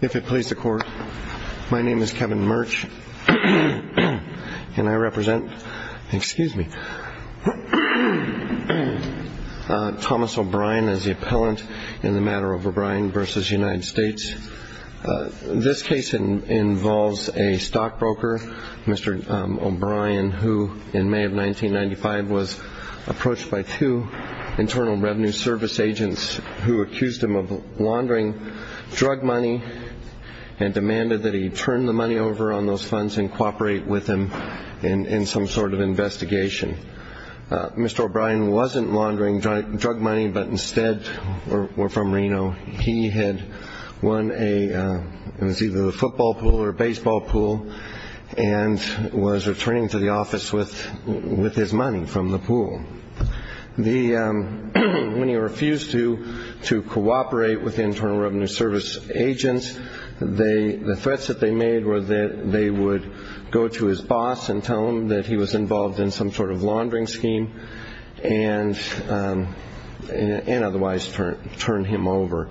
If it please the Court, my name is Kevin Murch, and I represent Thomas O'Brien as the appellant in the matter of O'Brien v. United States. This case involves a stockbroker, Mr. O'Brien, who in May of 1995 was approached by two Internal Revenue Service agents who accused him of and demanded that he turn the money over on those funds and cooperate with them in some sort of investigation. Mr. O'Brien wasn't laundering drug money, but instead, were from Reno. He had won a, it was either a football pool or a baseball pool, and was returning to the office with his money from the pool. When he refused to cooperate with the Internal Revenue Service agents, the threats that they made were that they would go to his boss and tell him that he was involved in some sort of laundering scheme and otherwise turn him over.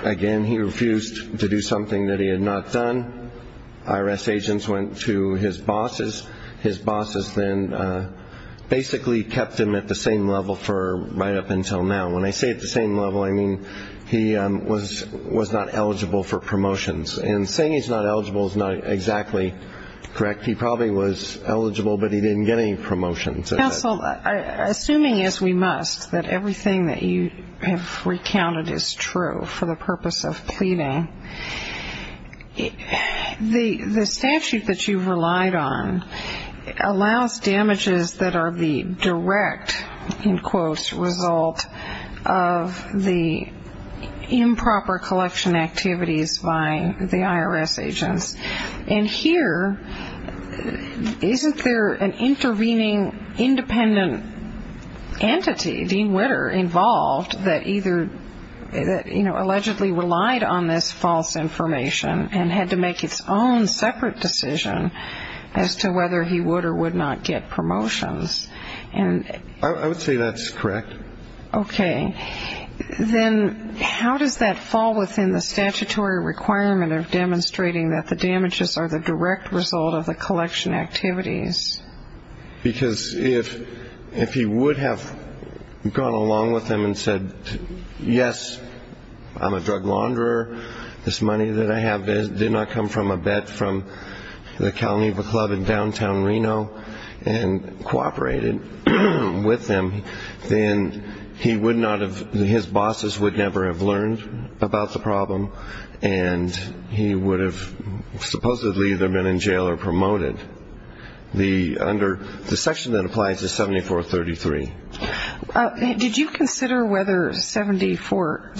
Again, he refused to do something that he had not done. IRS agents went to his bosses. His bosses then basically kept him at the same level for right up until now. When I say at the same level, I mean he was not eligible for promotions. And saying he's not eligible is not exactly correct. He probably was eligible, but he didn't get any promotions. Counsel, assuming as we must, that everything that you have recounted is true for the purpose of pleading, the statute that you've relied on allows damages that are the direct, in quotes, result of the improper collection activities by the IRS agents. And here, isn't there an intervening independent entity, Dean Witter, involved that either, you know, allegedly relied on this false information and had to make its own separate decision as to whether he would or would not get promotions? I would say that's correct. Okay. Then how does that fall within the statutory requirement of demonstrating that the damages are the direct result of the collection activities? Because if he would have gone along with them and said, yes, I'm a drug launderer, this money that I have did not come from a bet from the Calniva Club in downtown Reno, and cooperated with them, then he would not have, his bosses would never have learned about the problem, and he would have supposedly either been in jail or promoted. The section that applies is 7433. Did you consider whether 74,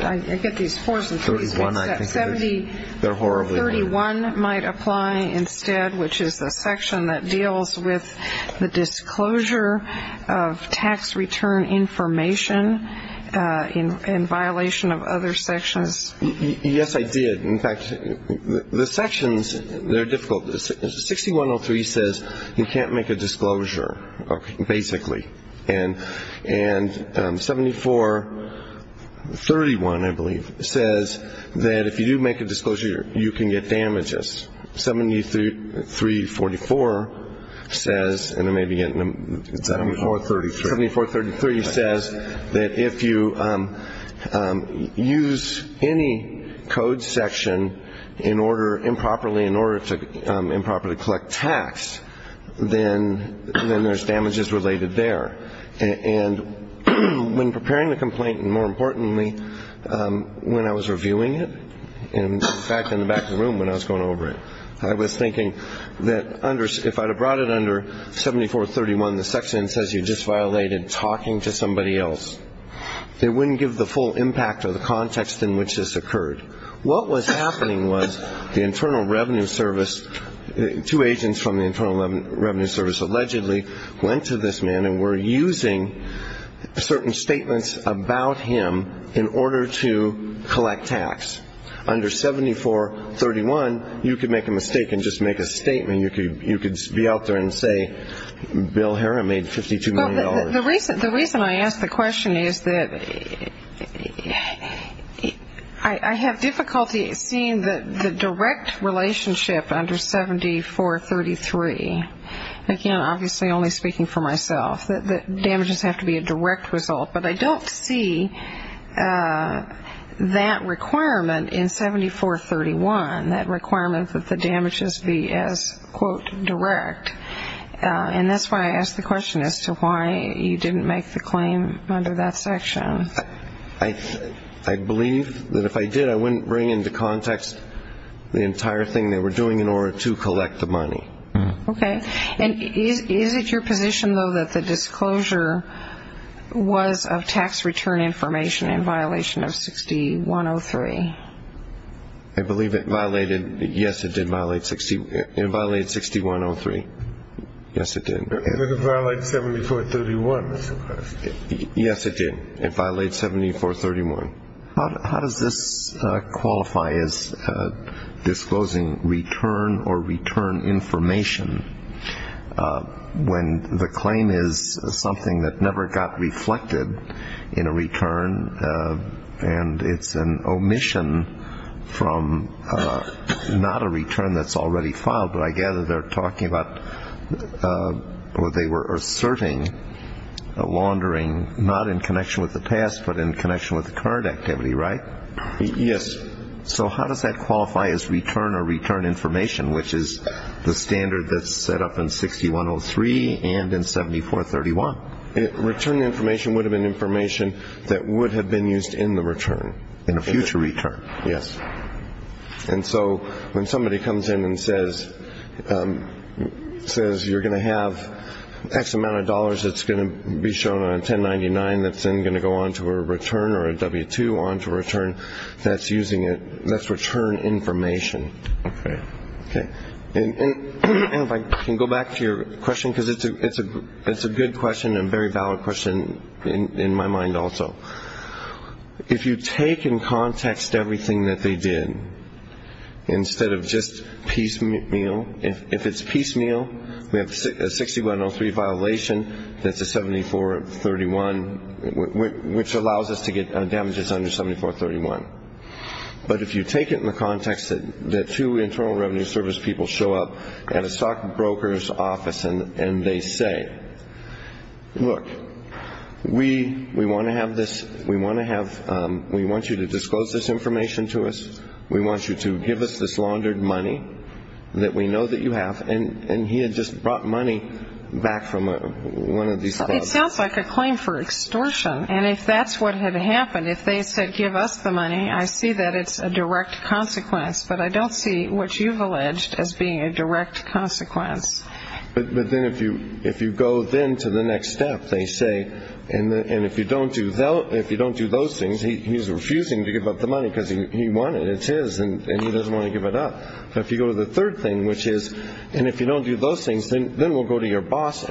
I get these fours and threes mixed up, 7031 might apply instead, which is the section that deals with the disclosure of tax return information in violation of other sections? Yes, I did. In fact, the sections, they're difficult. 6103 says you can't make a disclosure, basically. And 7431, I believe, says that if you do make a disclosure, you can get damages. 7344 says, and then maybe, 7433 says that if you use any code section in order, improperly in order to improperly collect tax, then there's damages related there. And when preparing the complaint, and more importantly, when I was reviewing it, in fact, in the back of the room when I was going over it, I was thinking that if I'd have brought it under 7431, the section says you just violated talking to somebody else, it wouldn't give the full impact or the context in which this occurred. What was happening was the Internal Revenue Service, two agents from the Internal Revenue Service allegedly went to this man and were using certain statements about him in order to collect tax Under 7431, you could make a mistake and just make a statement. You could be out there and say, Bill Herron made $52 million. The reason I ask the question is that I have difficulty seeing the direct relationship under 7433. Again, obviously only speaking for myself. The damages have to be a direct result. But I don't see that requirement in 7431, that requirement that the damages be as, quote, direct. And that's why I ask the question as to why you didn't make the claim under that section. I believe that if I did, I wouldn't bring into context the entire thing they were doing in order to collect the money. Okay. And is it your position, though, that the disclosure was of tax return information in violation of 6103? I believe it violated, yes, it did violate 6103. Yes, it did. It violated 7431. Yes, it did. It violated 7431. How does this qualify as disclosing return or return information when the claim is something that never got reflected in a return and it's an omission from not a return that's already filed? But I gather they're talking about or they were asserting laundering not in connection with the past but in connection with the current activity, right? Yes. So how does that qualify as return or return information, which is the standard that's set up in 6103 and in 7431? Return information would have been information that would have been used in the return, in a future return. Yes. And so when somebody comes in and says you're going to have X amount of dollars that's going to be shown on 1099 that's then going to go on to a return or a W-2 on to a return, that's using it, that's return information. Okay. Okay. And if I can go back to your question, because it's a good question and a very valid question in my mind also. If you take in context everything that they did instead of just piecemeal. If it's piecemeal, we have a 6103 violation that's a 7431, which allows us to get damages under 7431. But if you take it in the context that two Internal Revenue Service people show up at a stockbroker's office and they say, look, we want to have this, we want to have, we want you to disclose this information to us. We want you to give us this laundered money that we know that you have. And he had just brought money back from one of these clubs. It sounds like a claim for extortion. And if that's what had happened, if they said give us the money, I see that it's a direct consequence. But I don't see what you've alleged as being a direct consequence. But then if you go then to the next step, they say, and if you don't do those things, he's refusing to give up the money because he wanted it. It's his and he doesn't want to give it up. But if you go to the third thing, which is, and if you don't do those things, then we'll go to your bosses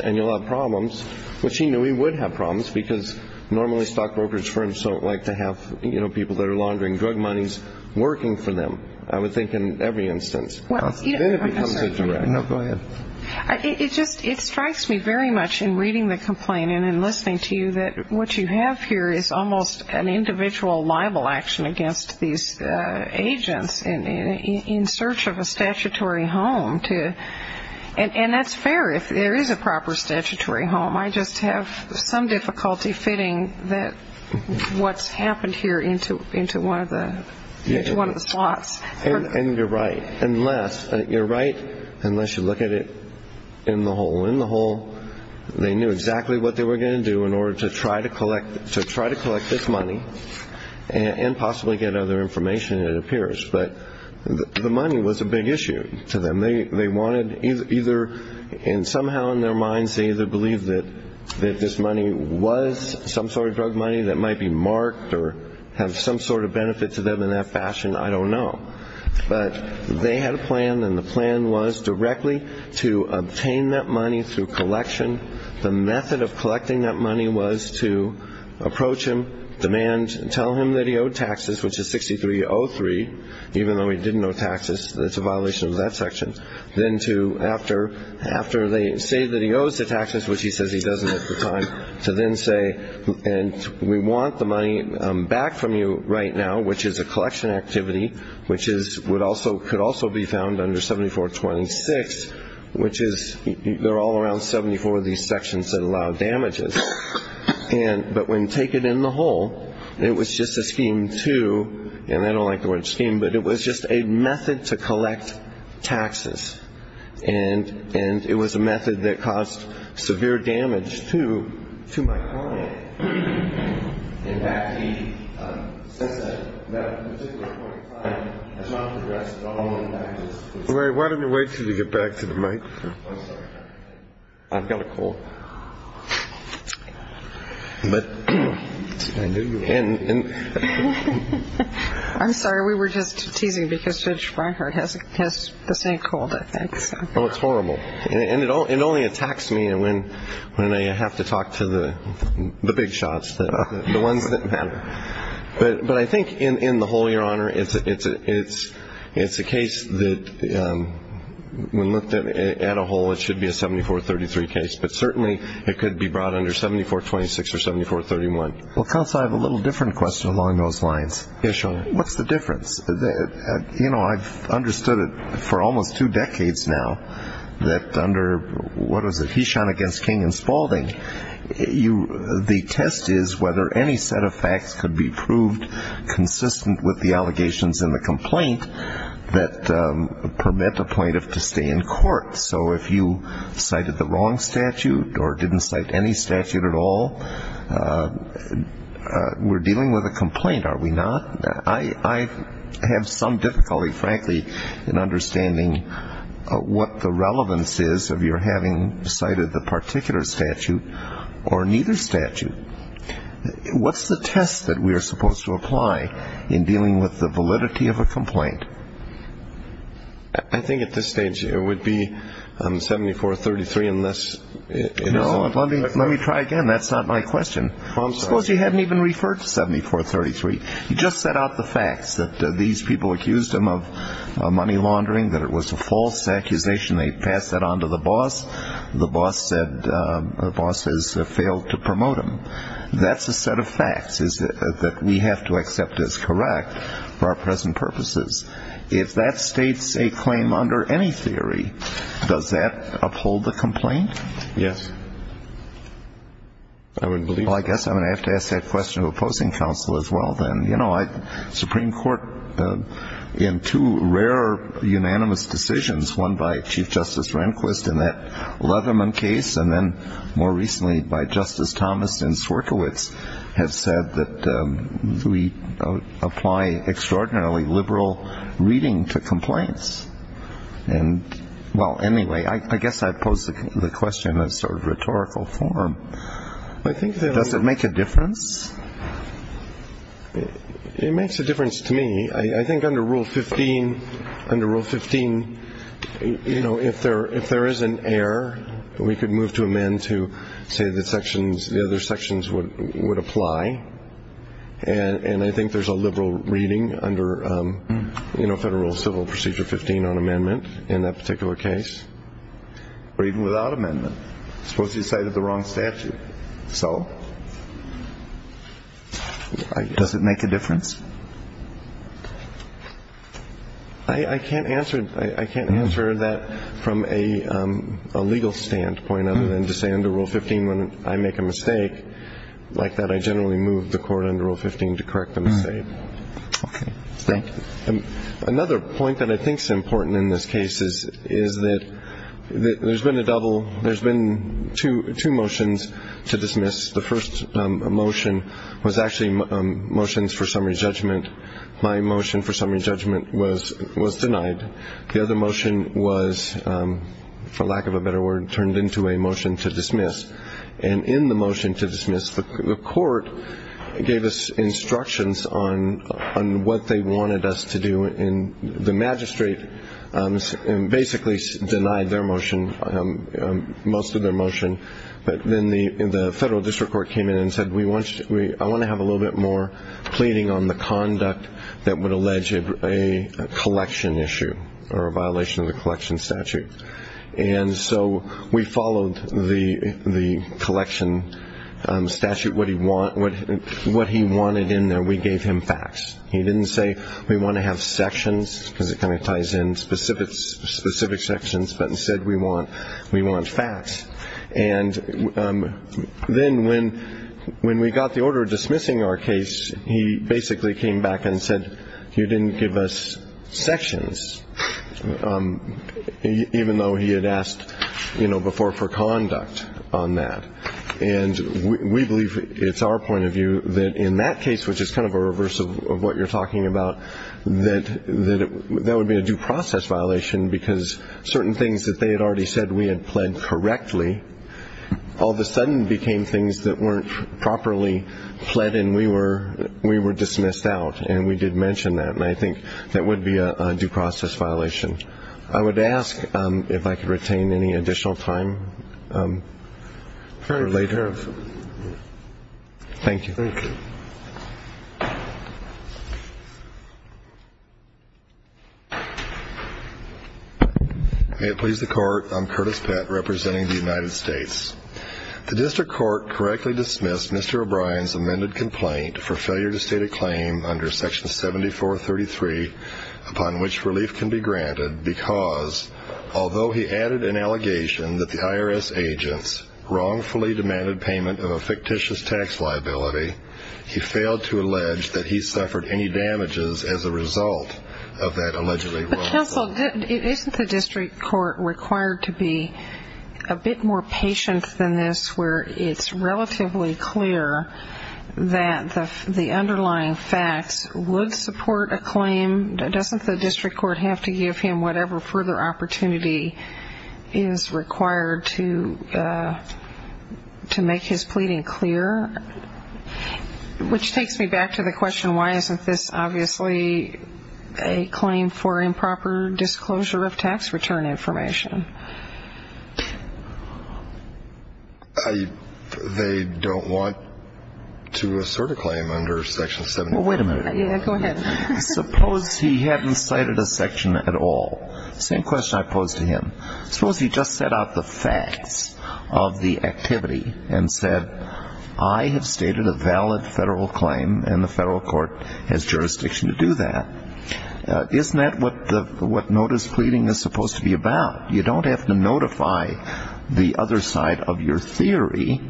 and you'll have problems, which he knew he would have problems, because normally stockbroker's firms don't like to have people that are laundering drug monies working for them. I would think in every instance. Then it becomes a direct consequence. It strikes me very much in reading the complaint and in listening to you that what you have here is almost an individual libel action against these agents in search of a statutory home. And that's fair if there is a proper statutory home. I just have some difficulty fitting what's happened here into one of the slots. And you're right, unless you look at it in the whole. In the whole, they knew exactly what they were going to do in order to try to collect this money and possibly get other information, it appears. But the money was a big issue to them. They wanted either, and somehow in their minds they either believed that this money was some sort of drug money that might be marked or have some sort of benefit to them in that fashion. I don't know. But they had a plan, and the plan was directly to obtain that money through collection. The method of collecting that money was to approach him, demand, tell him that he owed taxes, which is 6303, even though he didn't owe taxes. That's a violation of that section. Then to, after they say that he owes the taxes, which he says he doesn't at the time, to then say, and we want the money back from you right now, which is a collection activity, which could also be found under 7426, which is, they're all around 74 of these sections that allow damages. But when taken in the whole, it was just a scheme to, and I don't like the word scheme, but it was just a method to collect taxes. And it was a method that caused severe damage to my client. In fact, he, since that particular point in time, has not progressed at all in taxes. Why don't we wait until you get back to the microphone? I'm sorry. I've got a cold. But I knew you would. I'm sorry. We were just teasing because Judge Reinhardt has the same cold, I think. Well, it's horrible. And it only attacks me when I have to talk to the big shots, the ones that matter. But I think in the whole, Your Honor, it's a case that when looked at a whole, it should be a 7433 case. But certainly it could be brought under 7426 or 7431. Well, counsel, I have a little different question along those lines. Yes, Your Honor. What's the difference? You know, I've understood it for almost two decades now that under, what was it, Hesham against King and Spalding, the test is whether any set of facts could be proved consistent with the allegations in the complaint that permit a plaintiff to stay in court. So if you cited the wrong statute or didn't cite any statute at all, we're dealing with a complaint, are we not? I have some difficulty, frankly, in understanding what the relevance is of your having cited the particular statute or neither statute. What's the test that we are supposed to apply in dealing with the validity of a complaint? I think at this stage it would be 7433 unless... No, let me try again. That's not my question. Well, I'm sorry. Suppose you haven't even referred to 7433. You just set out the facts that these people accused him of money laundering, that it was a false accusation. They passed that on to the boss. The boss said, the boss has failed to promote him. That's a set of facts that we have to accept as correct for our present purposes. If that states a claim under any theory, does that uphold the complaint? Yes. I wouldn't believe it. Well, I guess I'm going to have to ask that question of opposing counsel as well then. You know, Supreme Court, in two rare unanimous decisions, one by Chief Justice Rehnquist in that Leatherman case, and then more recently by Justice Thomas in Swierkiewicz, have said that we apply extraordinarily liberal reading to complaints. And, well, anyway, I guess I pose the question in a sort of rhetorical form. I think that... Does it make a difference? It makes a difference to me. I think under Rule 15, you know, if there is an error, we could move to amend to say the other sections would apply. And I think there's a liberal reading under Federal Civil Procedure 15 on amendment in that particular case. Or even without amendment. Supposedly cited the wrong statute. So... Does it make a difference? I can't answer that from a legal standpoint other than to say under Rule 15 when I make a mistake like that I generally move the court under Rule 15 to correct the mistake. Okay. Thank you. Another point that I think is important in this case is that there's been a double... There's been two motions to dismiss. The first motion was actually motions for summary judgment. My motion for summary judgment was denied. The other motion was, for lack of a better word, turned into a motion to dismiss. And in the motion to dismiss, the court gave us instructions on what they wanted us to do. And the magistrate basically denied their motion, most of their motion. But then the federal district court came in and said, I want to have a little bit more pleading on the conduct that would allege a collection issue. Or a violation of the collection statute. And so we followed the collection statute. What he wanted in there, we gave him facts. He didn't say, we want to have sections, because it kind of ties in, specific sections. But instead we want facts. And then when we got the order dismissing our case, he basically came back and said, you didn't give us sections. Even though he had asked before for conduct on that. And we believe, it's our point of view, that in that case, which is kind of a reverse of what you're talking about, that that would be a due process violation because certain things that they had already said we had pled correctly, all of a sudden became things that weren't properly pled and we were dismissed out. And we did mention that. And I think that would be a due process violation. I would ask if I could retain any additional time for later. Very careful. Thank you. Thank you. May it please the court, I'm Curtis Pett representing the United States. The district court correctly dismissed Mr. O'Brien's amended complaint for failure to state a claim under section 7433 upon which relief can be granted because, although he added an allegation that the IRS agents wrongfully demanded payment of a fictitious tax liability, he failed to allege that he suffered any damages as a result of that allegedly wrongful claim. Counsel, isn't the district court required to be a bit more patient than this where it's relatively clear that the underlying facts would support a claim? Doesn't the district court have to give him whatever further opportunity is required to make his pleading clear? Which takes me back to the question, why isn't this obviously a claim for improper disclosure of tax return information? They don't want to assert a claim under section 71. Well, wait a minute. Yeah, go ahead. Suppose he hadn't cited a section at all. Same question I posed to him. Suppose he just set out the facts of the activity and said, I have stated a valid federal claim and the federal court has jurisdiction to do that. Isn't that what notice pleading is supposed to be about? You don't have to notify the other side of your theory,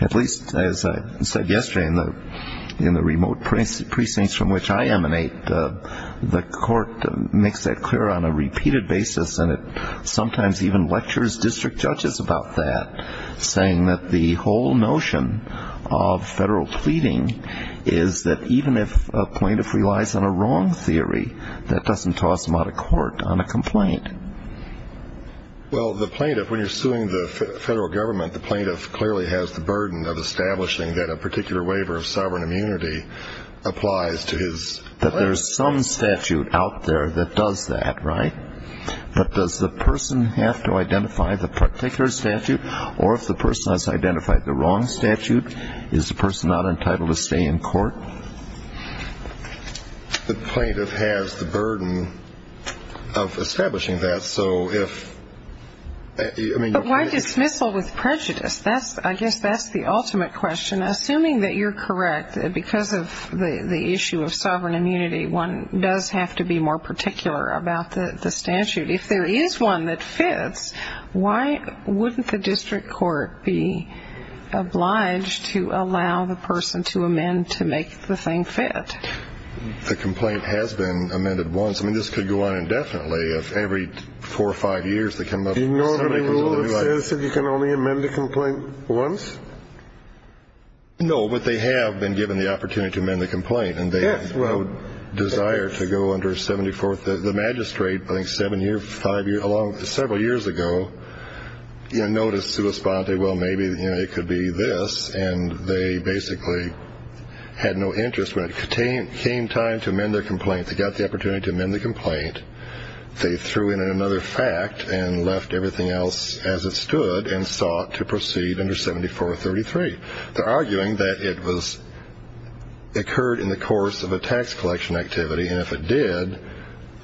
at least as I said yesterday in the remote precincts from which I emanate. The court makes that clear on a repeated basis and it sometimes even lectures district judges about that saying that the whole notion of federal pleading is that even if a plaintiff relies on a wrong theory that doesn't toss them out of court on a complaint. Well, the plaintiff, when you're suing the federal government, the plaintiff clearly has the burden of establishing that a particular waiver of sovereign immunity applies to his claim. But there's some statute out there that does that, right? But does the person have to identify the particular statute or if the person has identified the wrong statute, is the person not entitled to stay in court? The plaintiff has the burden of establishing that, so if... But why dismissal with prejudice? I guess that's the ultimate question. Assuming that you're correct, because of the issue of sovereign immunity, one does have to be more particular about the statute. If there is one that fits, why wouldn't the district court be obliged to allow the person to amend to make the thing fit? The complaint has been amended once. I mean, this could go on indefinitely. If every four or five years they come up... Do you know the rule that says that you can only amend a complaint once? No, but they have been given the opportunity to amend the complaint. And they desire to go under 74... The magistrate, I think, seven years, five years, several years ago, noticed, responded, well, maybe it could be this. And they basically had no interest. When it came time to amend their complaint, they got the opportunity to amend the complaint. They threw in another fact and left everything else as it stood and sought to proceed under 7433. They're arguing that it occurred in the course of a tax collection activity. And if it did,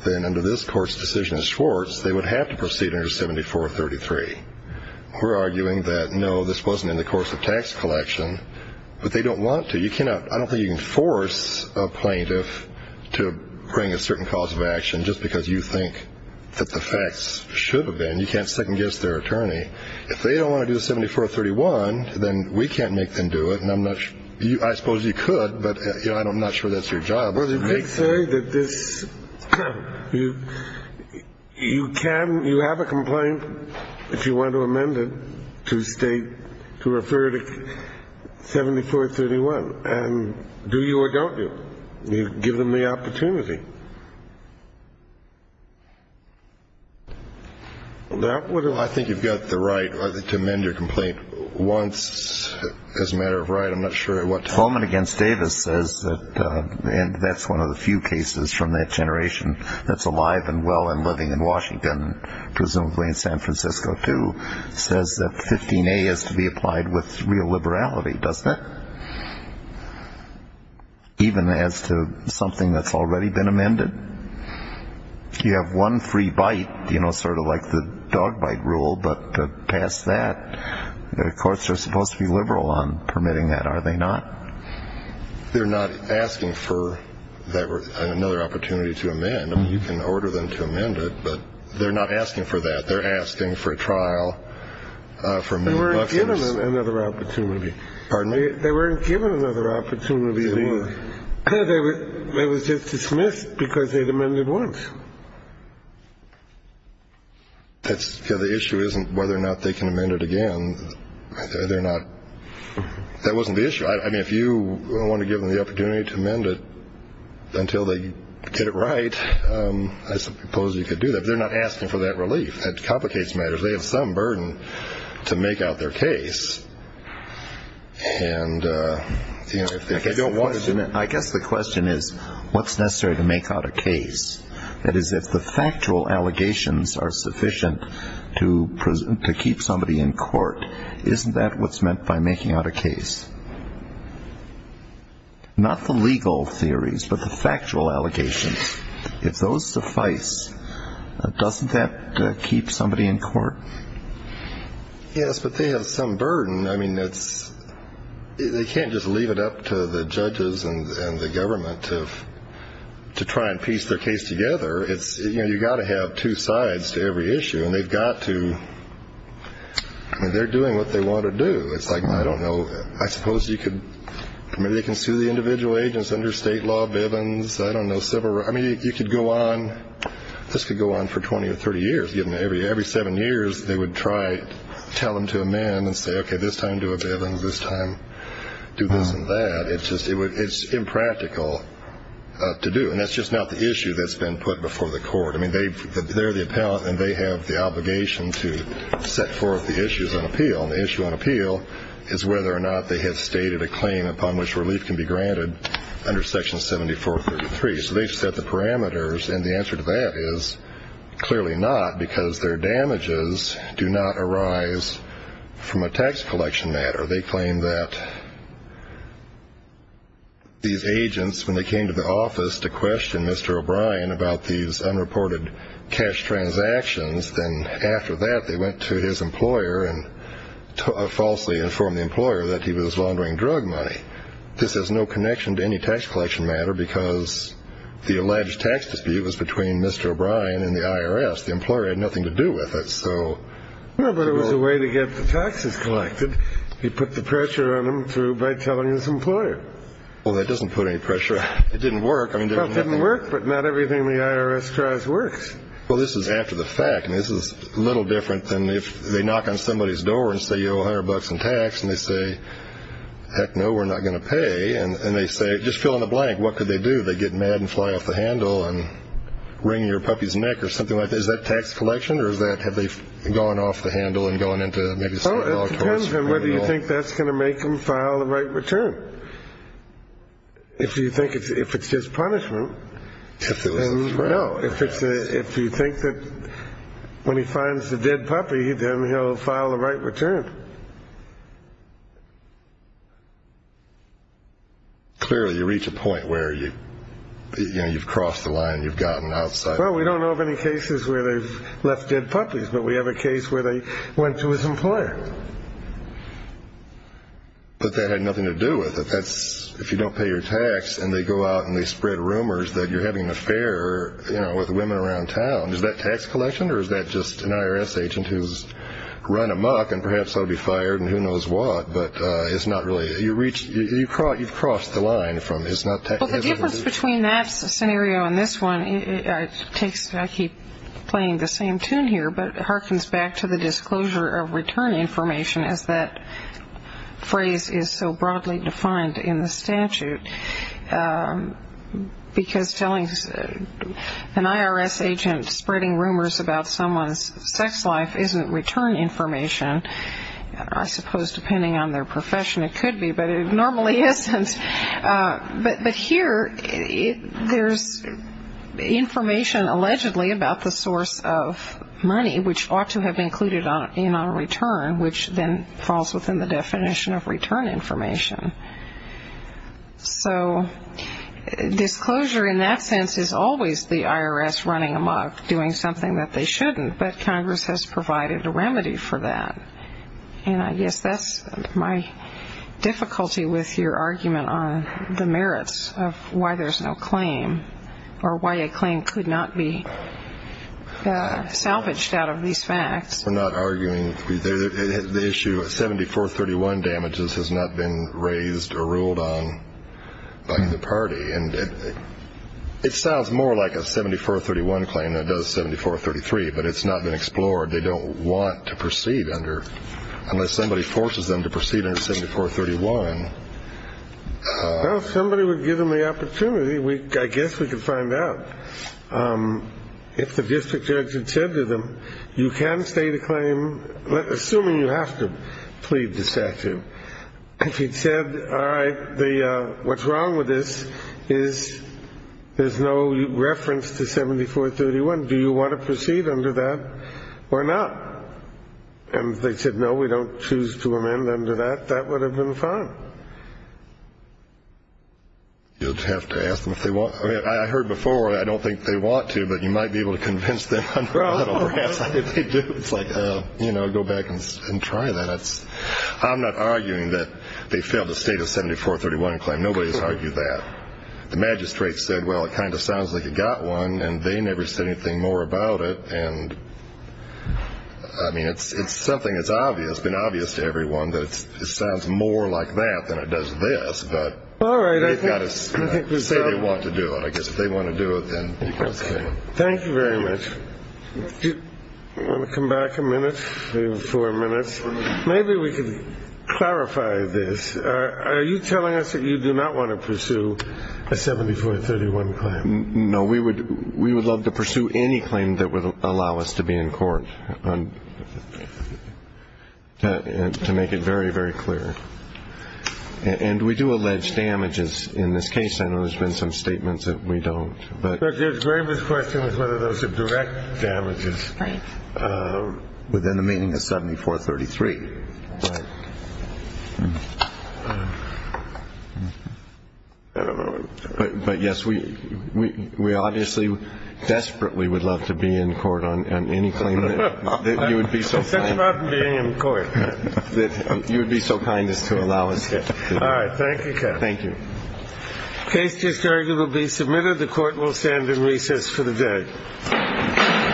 then under this court's decision in Schwartz, they would have to proceed under 7433. We're arguing that, no, this wasn't in the course of tax collection. But they don't want to. I don't think you can force a plaintiff to bring a certain cause of action just because you think that the facts should have been. You can't second-guess their attorney. If they don't want to do 7431, then we can't make them do it. I suppose you could, but I'm not sure that's your job. Well, they did say that this... You have a complaint, if you want to amend it, to state, to refer to 7431. And do you or don't you? You give them the opportunity. I think you've got the right to amend your complaint once. As a matter of right, I'm not sure what... Bowman v. Davis says that and that's one of the few cases from that generation that's alive and well and living in Washington and presumably in San Francisco too says that 15A is to be applied with real liberality, doesn't it? Even as to something that's already been amended? You have one free bite, you know, sort of like the dog bite rule, but past that, the courts are supposed to be liberal on permitting that, are they not? They're not asking for another opportunity to amend. I mean, you can order them to amend it, but they're not asking for that. They're asking for a trial They weren't given another opportunity. Pardon me? They weren't given another opportunity. They were just dismissed because they'd amended once. That's because the issue isn't whether or not they can amend it again. They're not... That wasn't the issue. I mean, if you want to give them the opportunity to amend it until they get it right, I suppose you could do that. But they're not asking for that relief. That complicates matters. They have some burden to make out their case. I guess the question is what's necessary to make out a case? That is, if the factual allegations are sufficient to keep somebody in court, isn't that what's meant by making out a case? Not the legal theories, but the factual allegations. If those suffice, doesn't that keep somebody in court? Yes, but they have some burden. I mean, it's... They can't just leave it up to the judges and the government to try and piece their case together. You've got to have two sides to every issue. They've got to... They're doing what they want to do. I suppose you could... Maybe they can sue the individual agents under state law, Bivens, I don't know, several... This could go on for 20 or 30 years. Every seven years, they would try to tell them to amend and say, okay, this time do a Bivens, this time do this and that. It's impractical to do. And that's just not the issue that's been put before the court. I mean, they're the appellant and they have the obligation to set forth the issues on appeal. The issue on appeal is whether or not they have stated a claim upon which relief can be granted under Section 7433. So they've set the parameters and the answer to that is clearly not because their damages do not arise from a tax collection matter. They claim that these agents, when they came to the office to question Mr. O'Brien about these unreported cash transactions, then after that, they went to his employer and falsely informed the employer that he was laundering drug money. This has no connection to any tax collection matter because the alleged tax dispute was between Mr. O'Brien and the IRS. The employer had nothing to do with it, so... No, but it was a way to get the taxes collected. He put the pressure on them by telling his employer. Well, that doesn't put any pressure. It didn't work. Well, it didn't work, but not everything the IRS tries works. Well, this is after the fact. This is a little different than if they knock on somebody's door and say, you owe a hundred bucks in tax, and they say, heck no, we're not going to pay, and they say, just fill in the blank, what could they do? They get mad and fly off the handle and wring your puppy's neck or something like that. Is that tax collection, or is that have they gone off the handle and gone into maybe some... Oh, it depends on whether you think that's going to make him file the right return. If you think it's his punishment... If it was his punishment. No. If you think that when he finds the dead puppy, then he'll file the right return. Clearly, you reach a point where you've crossed the line, you've gotten outside. Well, we don't know of any cases where they've left dead puppies, but we have a case where they went to his employer. But that had nothing to do with it. If you don't pay your tax and they go out and they spread rumors that you're having an affair with women around town, is that tax collection, or is that just an IRS agent who's run amok and perhaps he'll be fired and who knows what? But it's not really... You've crossed the line. Well, the difference between that scenario and this one, I keep playing the same tune here, but it harkens back to the disclosure of return information as that phrase is so broadly defined in the statute. Because telling an IRS agent spreading rumors about someone's sex life isn't return information, I suppose depending on their profession it could be, but it normally isn't. But here, there's information allegedly about the source of money, which ought to have been included in our return, which then falls within the definition of return information. So, disclosure in that sense is always the IRS running amok, doing something that they shouldn't, but Congress has done, and I guess that's my difficulty with your argument on the merits of why there's no claim or why a claim could not be salvaged out of these facts. We're not arguing... The issue of 7431 damages has not been raised or ruled on by the party. It sounds more like a 7431 claim than it does 7433, but it's not been explored. They don't want to proceed under, unless somebody forces them to proceed under 7431. Well, if somebody would give them the opportunity, I guess we could find out. If the district judge had said to them you can state a claim assuming you have to plead the statute. If he'd said, alright, what's wrong with this is there's no reference to 7431. Do you want to amend it or not? And if they said, no, we don't choose to amend them to that, that would have been fine. You'd have to ask them if they want to. I heard before, I don't think they want to, but you might be able to convince them under a lot of harassment if they do. It's like, go back and try that. I'm not arguing that they failed to state a 7431 claim. Nobody's argued that. The magistrate said, well, it kind of sounds like you got one, and they never said anything more about it. I mean, it's something that's obvious. It's been obvious to everyone that it sounds more like that than it does this, but they've got to say they want to do it. I guess if they want to do it, then you can say it. Thank you very much. Do you want to come back a minute? We have four minutes. Maybe we can clarify this. Are you telling us that you do not want to pursue a 7431 claim? No, we would love to pursue any claim that would allow us to be in court. To make it very, very clear. And we do allege damages in this case. I know there's been some statements that we don't. The greatest question is whether those are direct damages within the meaning of 7433. But yes, we obviously desperately would love to be in court on any claim that you would be so kind. It's such a problem being in court. You would be so kind as to allow us. All right. Thank you, Kevin. Thank you. Case just heard will be submitted. The court will stand in recess for the day.